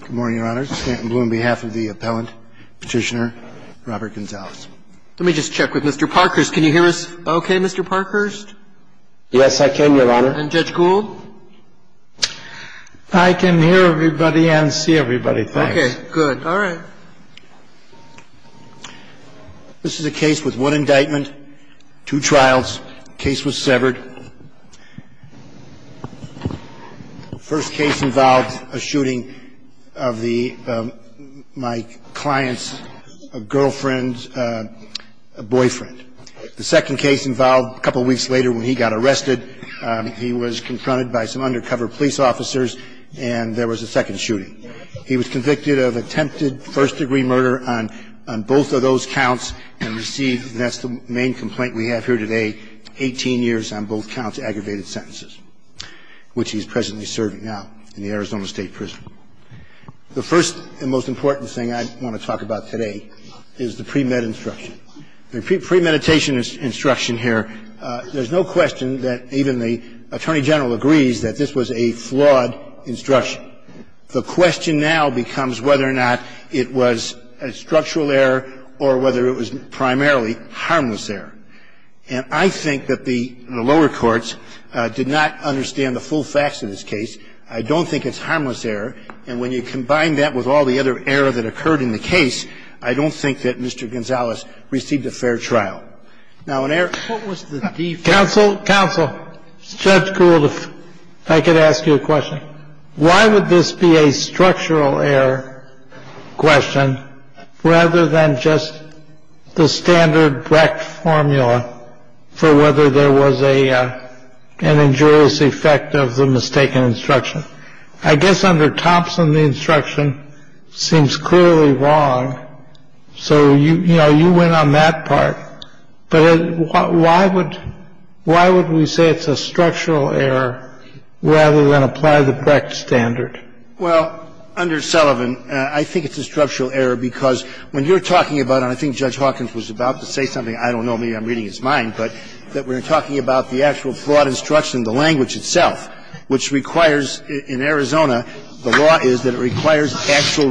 Good morning, Your Honor. This is Stanton Blum on behalf of the appellant, Petitioner Robert Gonzalez. Let me just check with Mr. Parkhurst. Can you hear us okay, Mr. Parkhurst? Yes, I can, Your Honor. And Judge Gould? I can hear everybody and see everybody, thanks. Okay, good. All right. This is a case with one indictment, two trials. The case was severed. The first case involved a shooting of my client's girlfriend's boyfriend. The second case involved a couple weeks later when he got arrested, he was confronted by some undercover police officers, and there was a second shooting. He was convicted of attempted first-degree murder on both of those counts and received, and that's the main complaint we have here today, 18 years on both counts, aggravated sentences, which he's presently serving now in the Arizona State Prison. The first and most important thing I want to talk about today is the premed instruction. The premeditation instruction here, there's no question that even the Attorney General agrees that this was a flawed instruction. The question now becomes whether or not it was a structural error or whether it was primarily harmless error. And I think that the lower courts did not understand the full facts of this case. I don't think it's harmless error. And when you combine that with all the other error that occurred in the case, I don't think that Mr. Gonzales received a fair trial. Now, an error was the default. Counsel, counsel, Judge Gould, if I could ask you a question. Why would this be a structural error question rather than just the standard Brecht formula for whether there was a an injurious effect of the mistaken instruction? I guess under Thompson, the instruction seems clearly wrong. So, you know, you went on that part. But why would we say it's a structural error rather than apply the Brecht standard? Well, under Sullivan, I think it's a structural error because when you're talking about it, and I think Judge Hawkins was about to say something, I don't know, maybe I'm reading his mind, but that we're talking about the actual flawed instruction, the language itself, which requires in Arizona, the law is that it requires actual reflection.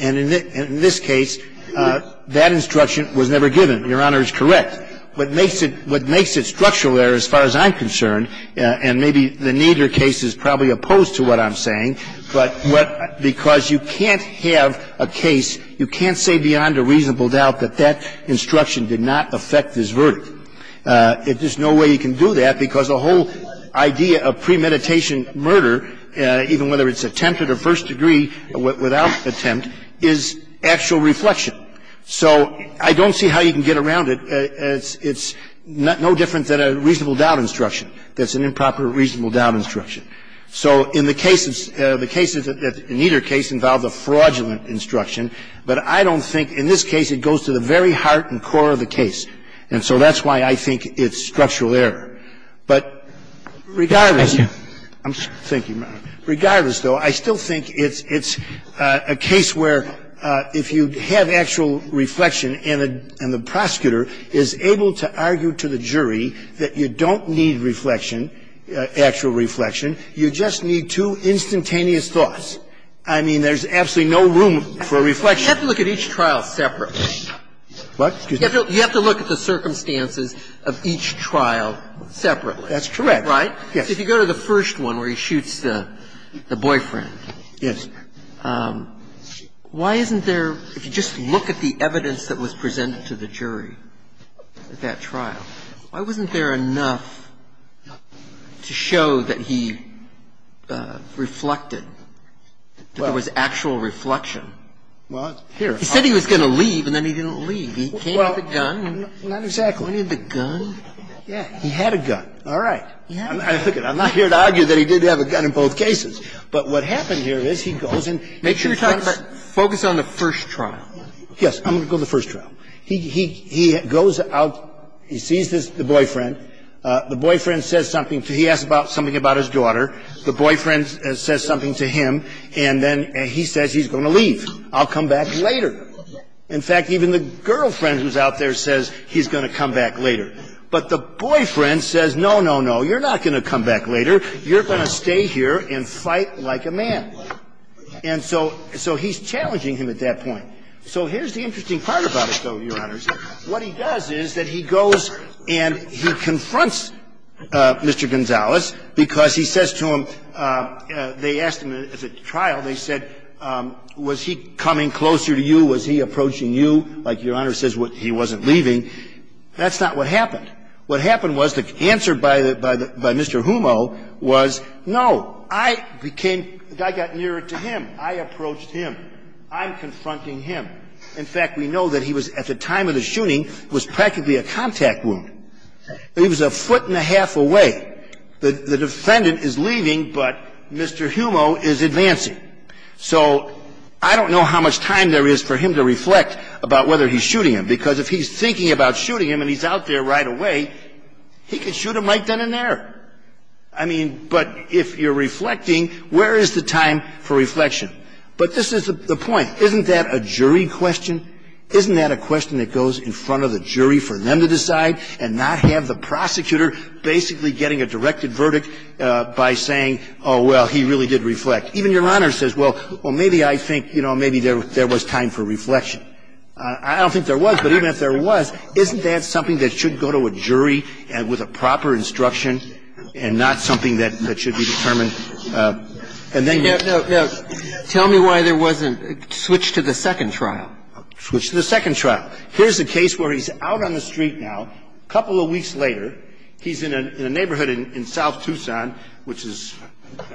And in this case, that instruction was never given. Your Honor is correct. What makes it structural error, as far as I'm concerned, and maybe the Nader case is probably opposed to what I'm saying, but because you can't have a case, you can't say beyond a reasonable doubt that that instruction did not affect his verdict. I'm not saying that's true. It's not true. There's no way you can do that because the whole idea of premeditation murder, even whether it's attempted or first degree without attempt, is actual reflection. So I don't see how you can get around it. It's no different than a reasonable doubt instruction that's an improper reasonable doubt instruction. So in the cases, the cases that Nader case involved, the fraudulent instruction, I don't think in this case it goes to the very heart and core of the case. And so that's why I think it's structural error. But regardless, regardless, though, I still think it's a case where if you have actual reflection and the prosecutor is able to argue to the jury that you don't need reflection, actual reflection, you just need two instantaneous thoughts. I mean, there's absolutely no room for reflection. You have to look at each trial separately. What? You have to look at the circumstances of each trial separately. That's correct. Right? Yes. If you go to the first one where he shoots the boyfriend. Yes. Why isn't there, if you just look at the evidence that was presented to the jury at that trial, why wasn't there enough to show that he reflected, that there was actual reflection? Well, here. He said he was going to leave, and then he didn't leave. He came with a gun. Well, not exactly. He came with a gun? Yeah. He had a gun. All right. Look it, I'm not here to argue that he did have a gun in both cases. But what happened here is he goes and he confronts. Focus on the first trial. Yes. I'm going to go to the first trial. He goes out. He sees the boyfriend. The boyfriend says something. He asks something about his daughter. The boyfriend says something to him. And then he says he's going to leave. I'll come back later. In fact, even the girlfriend who's out there says he's going to come back later. But the boyfriend says, no, no, no, you're not going to come back later. You're going to stay here and fight like a man. And so he's challenging him at that point. So here's the interesting part about it, though, Your Honors. What he does is that he goes and he confronts Mr. Gonzalez because he says to him they asked him at the trial, they said, was he coming closer to you? Was he approaching you? Like Your Honor says, he wasn't leaving. That's not what happened. What happened was the answer by the Mr. Humo was, no, I became the guy got nearer to him. I approached him. I'm confronting him. In fact, we know that he was at the time of the shooting was practically a contact wound. He was a foot and a half away. The defendant is leaving, but Mr. Humo is advancing. So I don't know how much time there is for him to reflect about whether he's shooting him, because if he's thinking about shooting him and he's out there right away, he could shoot him right then and there. I mean, but if you're reflecting, where is the time for reflection? But this is the point. Isn't that a jury question? Isn't that a question that goes in front of the jury for them to decide and not have the prosecutor basically getting a directed verdict by saying, oh, well, he really did reflect? Even Your Honor says, well, maybe I think, you know, maybe there was time for reflection. I don't think there was, but even if there was, isn't that something that should go to a jury with a proper instruction and not something that should be determined And it gives you room for some discussion. Tell me why there wasn't a switch to the second trial. Switched to the second trial. Here's a case where he's out on the street now, a couple of weeks later. He's in a neighborhood in south Tuscon, which is –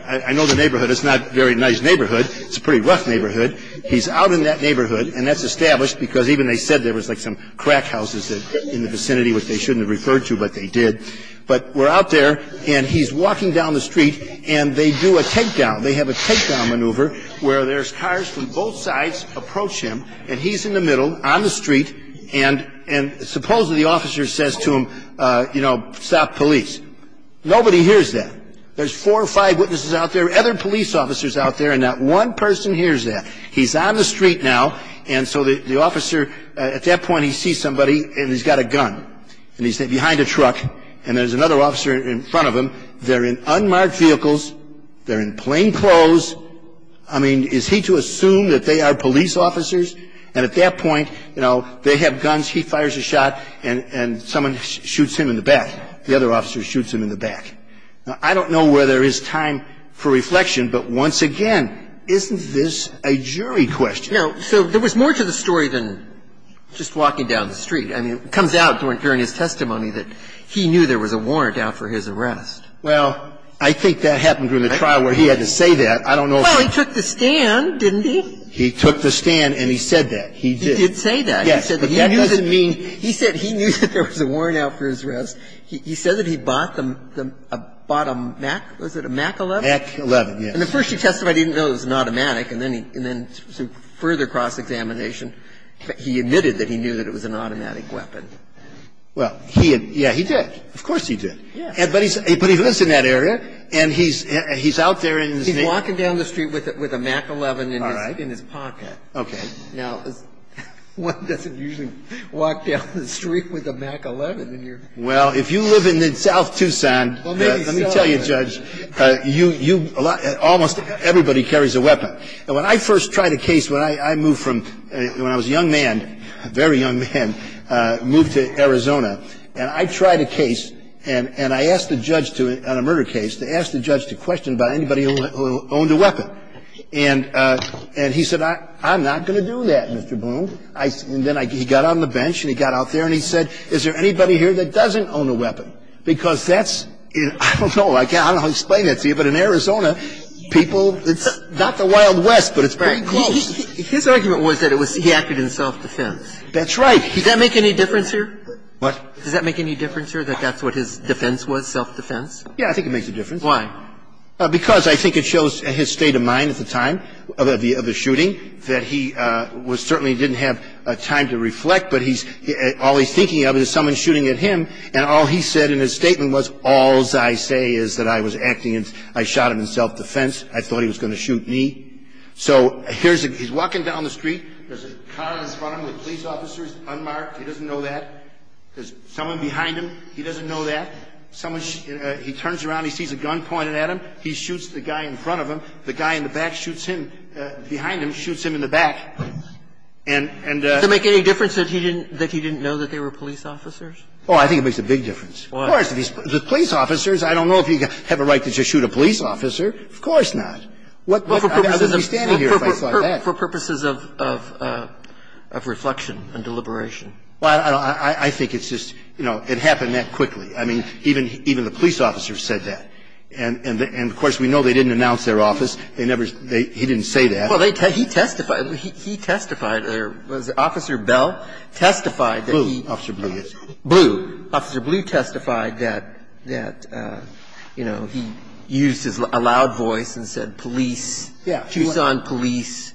I know the neighborhood. It's not a very nice neighborhood. It's a pretty rough neighborhood. He's out in that neighborhood, and that's established because even they said there was like some crack houses in the vicinity, which they shouldn't have referred to, but they did. But we're out there, and he's walking down the street, and they do a takedown. They have a takedown maneuver where there's cars from both sides approach him, and he's in the middle on the street. And supposedly the officer says to him, you know, stop police. Nobody hears that. There's four or five witnesses out there, other police officers out there, and not one person hears that. He's out on the street now, and so the officer – at that point, he sees somebody, and he's got a gun. And he's behind a truck, and there's another officer in front of him. They're in unmarked vehicles. They're in plain clothes. I mean, is he to assume that they are police officers? And at that point, you know, they have guns. He fires a shot, and someone shoots him in the back. The other officer shoots him in the back. Now, I don't know where there is time for reflection, but once again, isn't this a jury question? No. So there was more to the story than just walking down the street. I mean, it comes out during his testimony that he knew there was a warrant out for his arrest. Well, I think that happened during the trial where he had to say that. I don't know if he – Well, he took the stand, didn't he? He took the stand, and he said that. He did. He did say that. Yes. But that doesn't mean – He said he knew that there was a warrant out for his arrest. He said that he bought the – bought a Mac – was it a Mac 11? Mac 11, yes. And at first he testified he didn't know it was an automatic, and then he – and then through further cross-examination, he admitted that he knew that it was an automatic weapon. Well, he had – yeah, he did. Of course he did. Yeah. But he lives in that area, and he's out there in his neighborhood. He's walking down the street with a Mac 11 in his pocket. All right. Now, one doesn't usually walk down the street with a Mac 11 in your pocket. Well, if you live in South Tucson, let me tell you, Judge, you – almost everybody carries a weapon. And when I first tried a case when I moved from – when I was a young man, a very young man, moved to Arizona. And I tried a case, and I asked the judge to – on a murder case, to ask the judge to question about anybody who owned a weapon. And he said, I'm not going to do that, Mr. Bloom. And then I – he got on the bench, and he got out there, and he said, is there anybody here that doesn't own a weapon? Because that's – I don't know. I can't – I don't know how to explain that to you, but in Arizona, people – it's not the Wild West, but it's pretty close. Right. His argument was that it was – he acted in self-defense. That's right. Does that make any difference here? What? Does that make any difference here, that that's what his defense was, self-defense? Yeah, I think it makes a difference. Why? Because I think it shows his state of mind at the time of the shooting, that he was certainly didn't have time to reflect, but he's – all he's thinking of is someone shooting at him, and all he said in his statement was, alls I say is that I was acting in – I shot him in self-defense. I thought he was going to shoot me. So here's – he's walking down the street. There's a car in front of him with police officers unmarked. He doesn't know that. There's someone behind him. He doesn't know that. Someone – he turns around, he sees a gun pointed at him. He shoots the guy in front of him. The guy in the back shoots him – behind him shoots him in the back. And the – Does it make any difference that he didn't – that he didn't know that they were police officers? Oh, I think it makes a big difference. Why? Of course. The police officers, I don't know if you have a right to just shoot a police officer. Of course not. What – I wouldn't be standing here if I saw that. For purposes of reflection and deliberation. Well, I think it's just – you know, it happened that quickly. I mean, even the police officers said that. And, of course, we know they didn't announce their office. They never – he didn't say that. Well, he testified. He testified. Was it Officer Bell? Testified that he – Blue. Officer Blue, yes. Blue. Officer Blue testified that, you know, he used a loud voice and said police, Tucson police.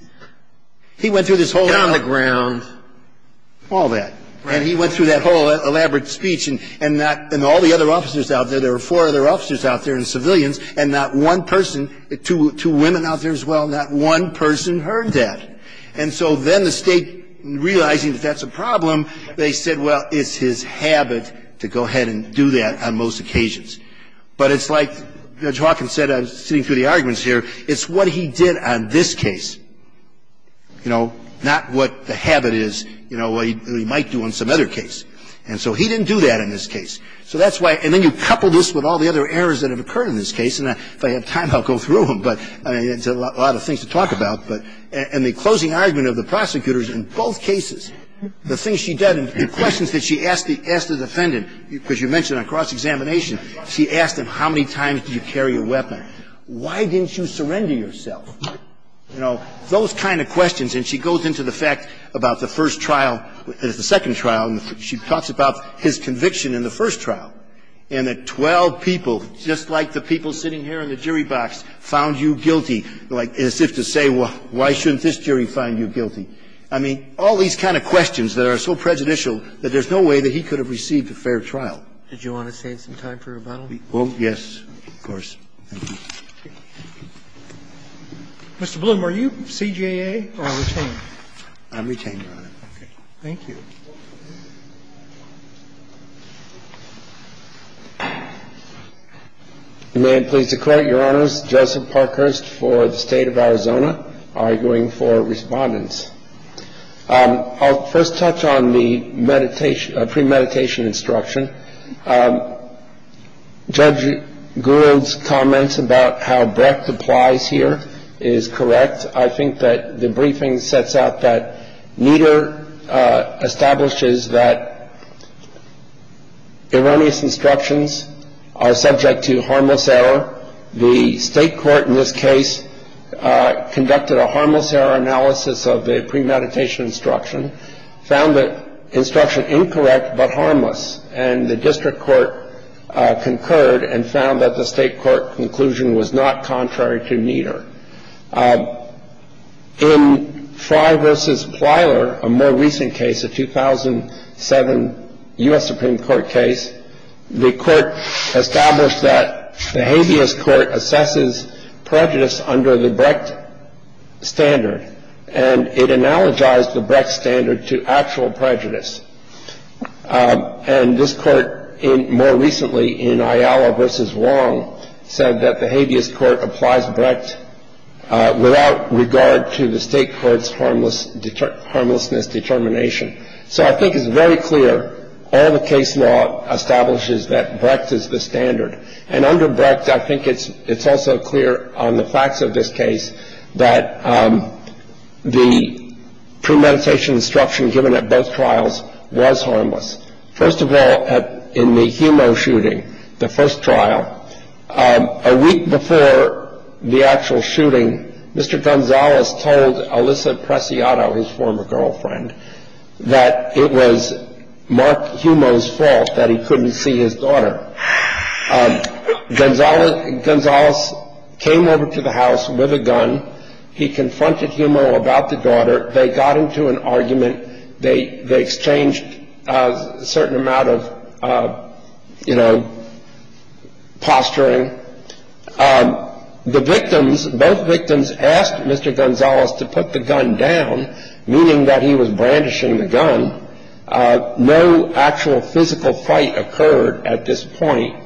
He went through this whole – Get on the ground. All that. And he went through that whole elaborate speech. And that – and all the other officers out there, there were four other officers out there and civilians, and not one person – two women out there as well – not one person heard that. And so then the State, realizing that that's a problem, they said, well, it's his habit to go ahead and do that on most occasions. But it's like Judge Hawkins said, sitting through the arguments here, it's what he did on this case, you know, not what the habit is, you know, what he might do on some other case. And so he didn't do that on this case. So that's why – and then you couple this with all the other errors that have occurred in this case. And if I have time, I'll go through them. But, I mean, it's a lot of things to talk about. But – and the closing argument of the prosecutors in both cases, the things she did and the questions that she asked the defendant, because you mentioned on cross-examination, she asked him, how many times do you carry a weapon? Why didn't you surrender yourself? You know, those kind of questions. And she goes into the fact about the first trial, the second trial, and she talks about his conviction in the first trial. And that 12 people, just like the people sitting here in the jury box, found you guilty. Like, as if to say, well, why shouldn't this jury find you guilty? I mean, all these kind of questions that are so prejudicial that there's no way that he could have received a fair trial. Did you want to save some time for rebuttal? Well, yes, of course. Mr. Bloom, are you CJA or retained? I'm retained, Your Honor. Okay. Thank you. May it please the Court. Your Honors, Joseph Parkhurst for the State of Arizona, arguing for Respondents. I'll first touch on the meditation – premeditation instruction. Judge Gould's comments about how breadth applies here is correct. I think that the briefing sets out that Nieder establishes that erroneous instructions are subject to harmless error. The state court in this case conducted a harmless error analysis of the premeditation instruction, found the instruction incorrect but harmless, and the district court concurred and found that the state court conclusion was not contrary to Nieder. In Fry v. Plyler, a more recent case, a 2007 U.S. Supreme Court case, the court established that the habeas court assesses prejudice under the Brecht standard, and it analogized the Brecht standard to actual prejudice. And this court, more recently in Ayala v. Wong, said that the habeas court applies Brecht without regard to the state court's harmlessness determination. So I think it's very clear all the case law establishes that Brecht is the standard. And under Brecht, I think it's also clear on the facts of this case that the premeditation instruction given at both trials was harmless. First of all, in the Humo shooting, the first trial, a week before the actual shooting, Mr. Gonzales told Alyssa Preciado, his former girlfriend, that it was Mark Humo's fault that he couldn't see his daughter. Gonzales came over to the house with a gun. He confronted Humo about the daughter. They got into an argument. They exchanged a certain amount of, you know, posturing. The victims, both victims asked Mr. Gonzales to put the gun down, meaning that he was brandishing the gun. No actual physical fight occurred at this point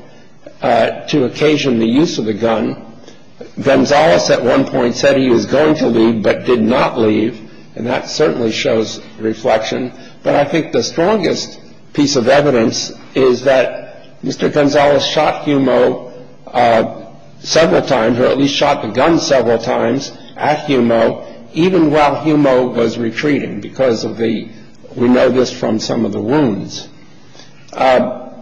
to occasion the use of the gun. Gonzales at one point said he was going to leave but did not leave. And that certainly shows reflection. But I think the strongest piece of evidence is that Mr. Gonzales shot Humo several times, or at least shot the gun several times at Humo even while Humo was retreating because of the, we know this from some of the wounds. Not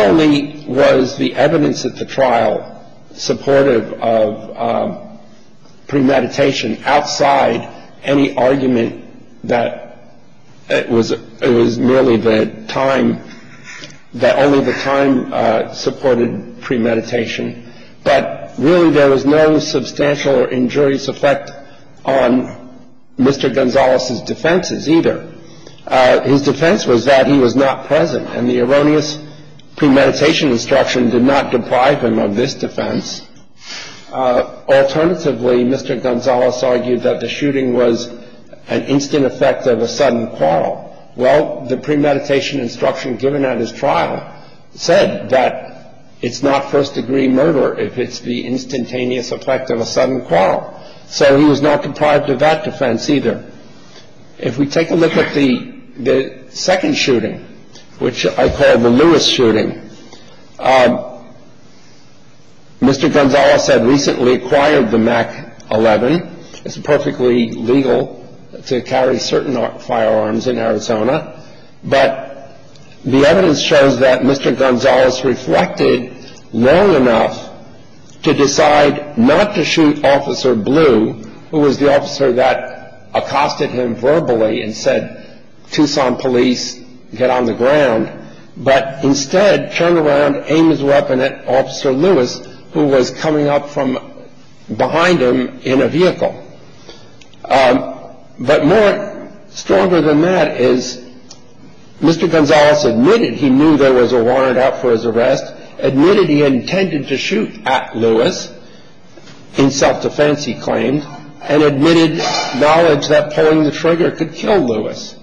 only was the evidence at the trial supportive of premeditation outside any argument that it was merely the time, supported premeditation, but really there was no substantial or injurious effect on Mr. Gonzales' defenses either. His defense was that he was not present, and the erroneous premeditation instruction did not deprive him of this defense. Alternatively, Mr. Gonzales argued that the shooting was an instant effect of a sudden quarrel. Well, the premeditation instruction given at his trial said that it's not first-degree murder if it's the instantaneous effect of a sudden quarrel. So he was not deprived of that defense either. If we take a look at the second shooting, which I call the Lewis shooting, Mr. Gonzales had recently acquired the MAC-11. It's perfectly legal to carry certain firearms in Arizona, but the evidence shows that Mr. Gonzales reflected long enough to decide not to shoot Officer Blue, who was the officer that accosted him verbally and said, Tucson police, get on the ground, but instead turned around, aimed his weapon at Officer Lewis, who was coming up from behind him in a vehicle. But more stronger than that is Mr. Gonzales admitted he knew there was a warrant out for his arrest, admitted he intended to shoot at Lewis in self-defense, he claimed, and admitted knowledge that pulling the trigger could kill Lewis.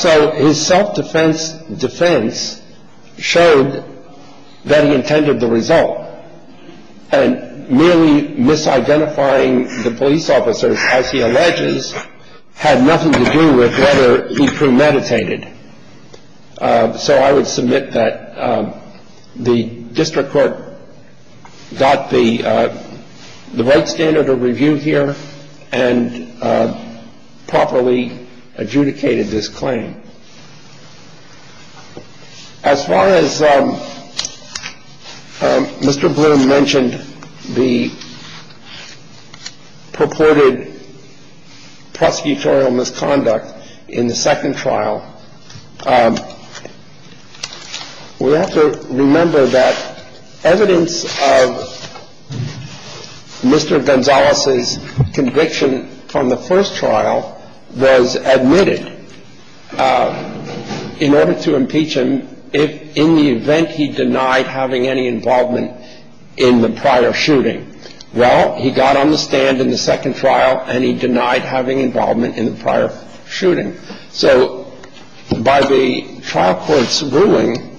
So his self-defense defense showed that he intended the result, and merely misidentifying the police officers, as he alleges, had nothing to do with whether he premeditated. So I would submit that the district court got the right standard of review here and properly adjudicated this claim. As far as Mr. Bloom mentioned the purported prosecutorial misconduct in the second trial, we have to remember that evidence of Mr. Gonzales' conviction from the first trial was admitted in order to impeach him, if in the event he denied having any involvement in the prior shooting. Well, he got on the stand in the second trial, and he denied having involvement in the prior shooting. So by the trial court's ruling,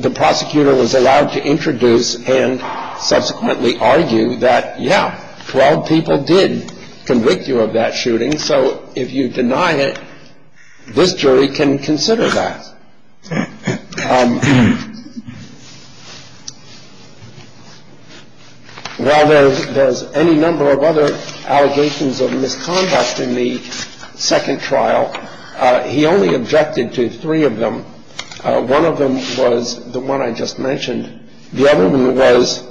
the prosecutor was allowed to introduce and subsequently argue that, yeah, 12 people did convict you of that shooting. So if you deny it, this jury can consider that. While there's any number of other allegations of misconduct in the second trial, he only objected to three of them. One of them was the one I just mentioned. The other one was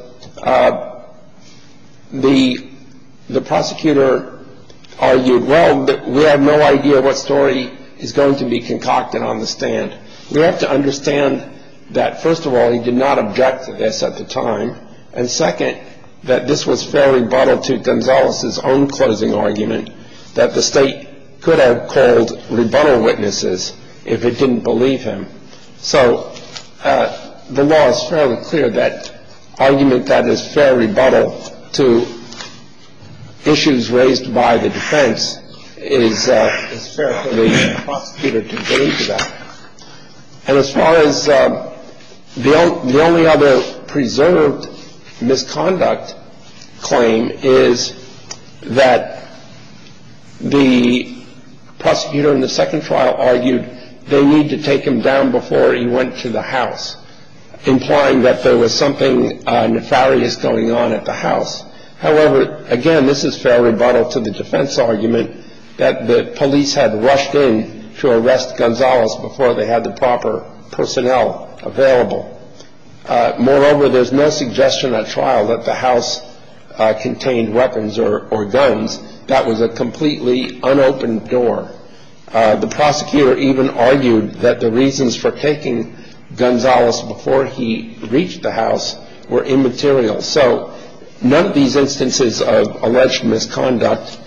the prosecutor argued, well, we have no idea what story is going to be concocted on the stand. We have to understand that, first of all, he did not object to this at the time, and second, that this was fair rebuttal to Gonzales' own closing argument that the state could have called rebuttal witnesses if it didn't believe him. So the law is fairly clear that argument that is fair rebuttal to issues raised by the defense is fair for the prosecutor to agree to that. And as far as the only other preserved misconduct claim is that the prosecutor in the second trial argued they need to take him down before he went to the house, implying that there was something nefarious going on at the house. However, again, this is fair rebuttal to the defense argument that the police had rushed in to arrest Gonzales before they had the proper personnel available. Moreover, there's no suggestion at trial that the house contained weapons or guns. That was a completely unopened door. The prosecutor even argued that the reasons for taking Gonzales before he reached the house were immaterial. So none of these instances of alleged misconduct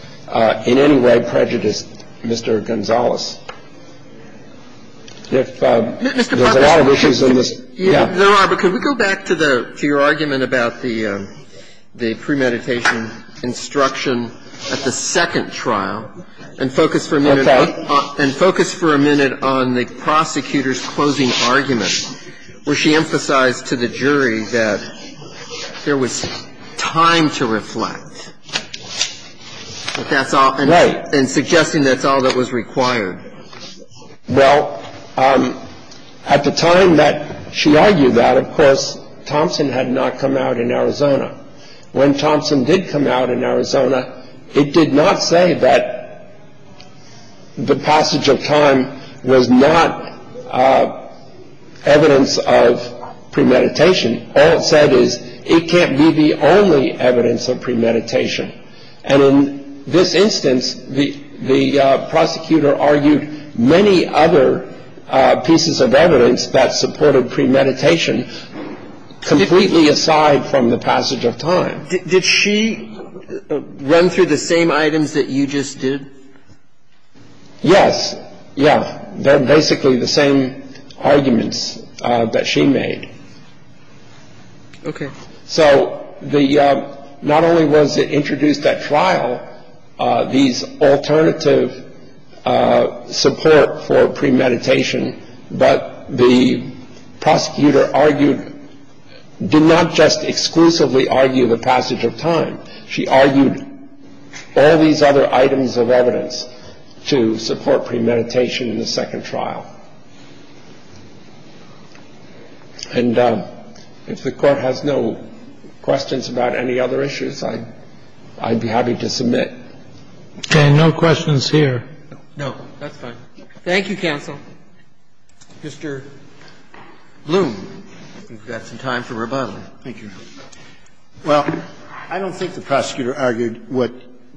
in any way prejudiced Mr. Gonzales. There's a lot of issues in this. There are. But could we go back to your argument about the premeditation instruction at the second trial and focus for a minute on the prosecutor's closing argument where she emphasized to the jury that there was time to reflect and suggesting that's all that was required. Well, at the time that she argued that, of course, Thompson had not come out in Arizona. When Thompson did come out in Arizona, it did not say that the passage of time was not evidence of premeditation. All it said is it can't be the only evidence of premeditation. And in this instance, the prosecutor argued many other pieces of evidence that supported premeditation completely aside from the passage of time. Did she run through the same items that you just did? Yes. Yeah. They're basically the same arguments that she made. Okay. So the not only was it introduced that trial, these alternative support for premeditation, but the prosecutor argued did not just exclusively argue the passage of time. She argued all these other items of evidence to support premeditation in the second trial. And if the Court has no questions about any other issues, I'd be happy to submit. Okay. No questions here. No. That's fine. Thank you, counsel. Mr. Bloom, you've got some time for rebuttal. Thank you. Well, I don't think the prosecutor argued what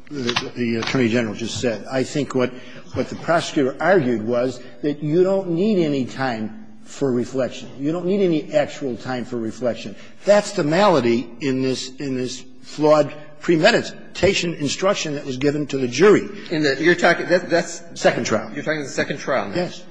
the Attorney General just said. I think what the prosecutor argued was that you don't need any time for reflection. You don't need any actual time for reflection. That's the malady in this flawed premeditation instruction that was given to the jury. In the you're talking, that's the second trial. You're talking about the second trial. Yes.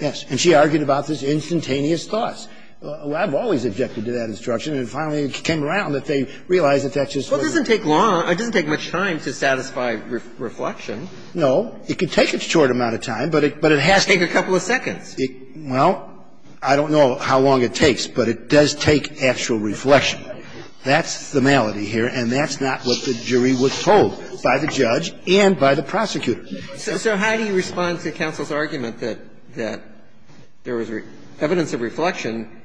Yes. And she argued about this instantaneous thought. I've always objected to that instruction. And finally it came around that they realized that that just wasn't. Well, it doesn't take long. It doesn't take much time to satisfy reflection. No. It can take a short amount of time, but it has to. It can take a couple of seconds. Well, I don't know how long it takes, but it does take actual reflection. That's the malady here. And that's not what the jury was told by the judge and by the prosecutor. So how do you respond to counsel's argument that there was evidence of reflection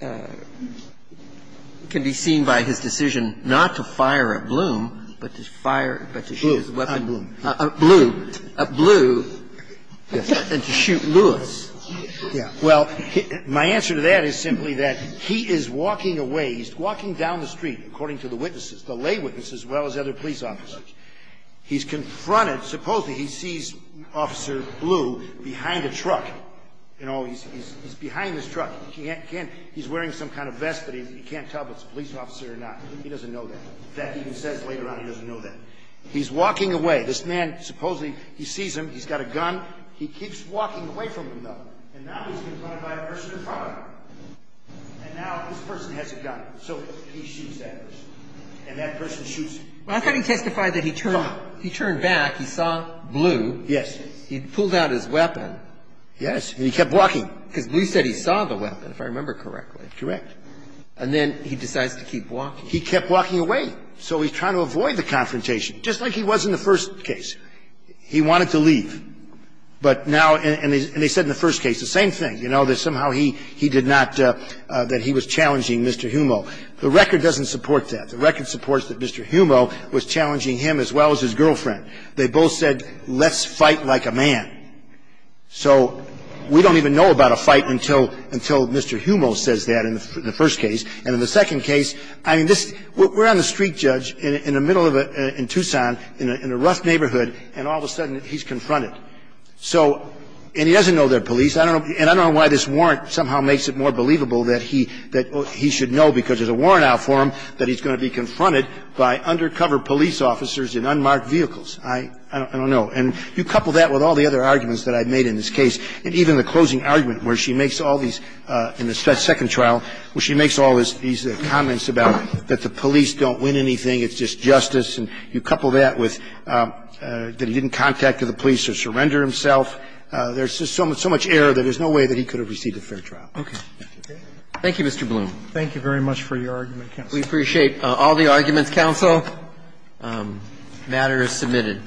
can be seen by his decision not to fire at Bloom, but to fire, but to shoot his weapon down at Bloom? At Bloom. At Bloom. Yes. And to shoot Lewis. Yes. Well, my answer to that is simply that he is walking away. He's walking down the street, according to the witnesses, the lay witnesses as well as other police officers. He's confronted. Supposedly he sees Officer Bloom behind a truck. You know, he's behind this truck. He's wearing some kind of vest, but he can't tell if it's a police officer or not. He doesn't know that. In fact, he even says later on he doesn't know that. He's walking away. This man, supposedly, he sees him. He's got a gun. He keeps walking away from him, though. And now he's confronted by a person in front of him. And now this person has a gun. So he shoots that person. And that person shoots him. Well, I thought he testified that he turned back. He turned back. He saw Bloom. Yes. He pulled out his weapon. Yes. And he kept walking. Because Bloom said he saw the weapon, if I remember correctly. Correct. And then he decides to keep walking. He kept walking away. So he's trying to avoid the confrontation, just like he was in the first case. He wanted to leave. But now they said in the first case the same thing, you know, that somehow he did not, that he was challenging Mr. Humo. The record doesn't support that. The record supports that Mr. Humo was challenging him as well as his girlfriend. They both said, let's fight like a man. So we don't even know about a fight until Mr. Humo says that in the first case. And in the second case, I mean, this — we're on the street, Judge, in the middle of a — in Tucson, in a rough neighborhood, and all of a sudden he's confronted. So — and he doesn't know they're police. I don't know — and I don't know why this warrant somehow makes it more believable that he should know, because there's a warrant out for him, that he's going to be confronted by undercover police officers in unmarked vehicles. I don't know. And you couple that with all the other arguments that I've made in this case, and even the closing argument, where she makes all these — in the second trial, where she makes all these comments about that the police don't win anything, it's just justice, and you couple that with that he didn't contact the police or surrender himself. There's just so much error that there's no way that he could have received a fair trial. Roberts. Thank you, Mr. Bloom. Thank you very much for your argument, counsel. We appreciate all the arguments, counsel. The matter is submitted.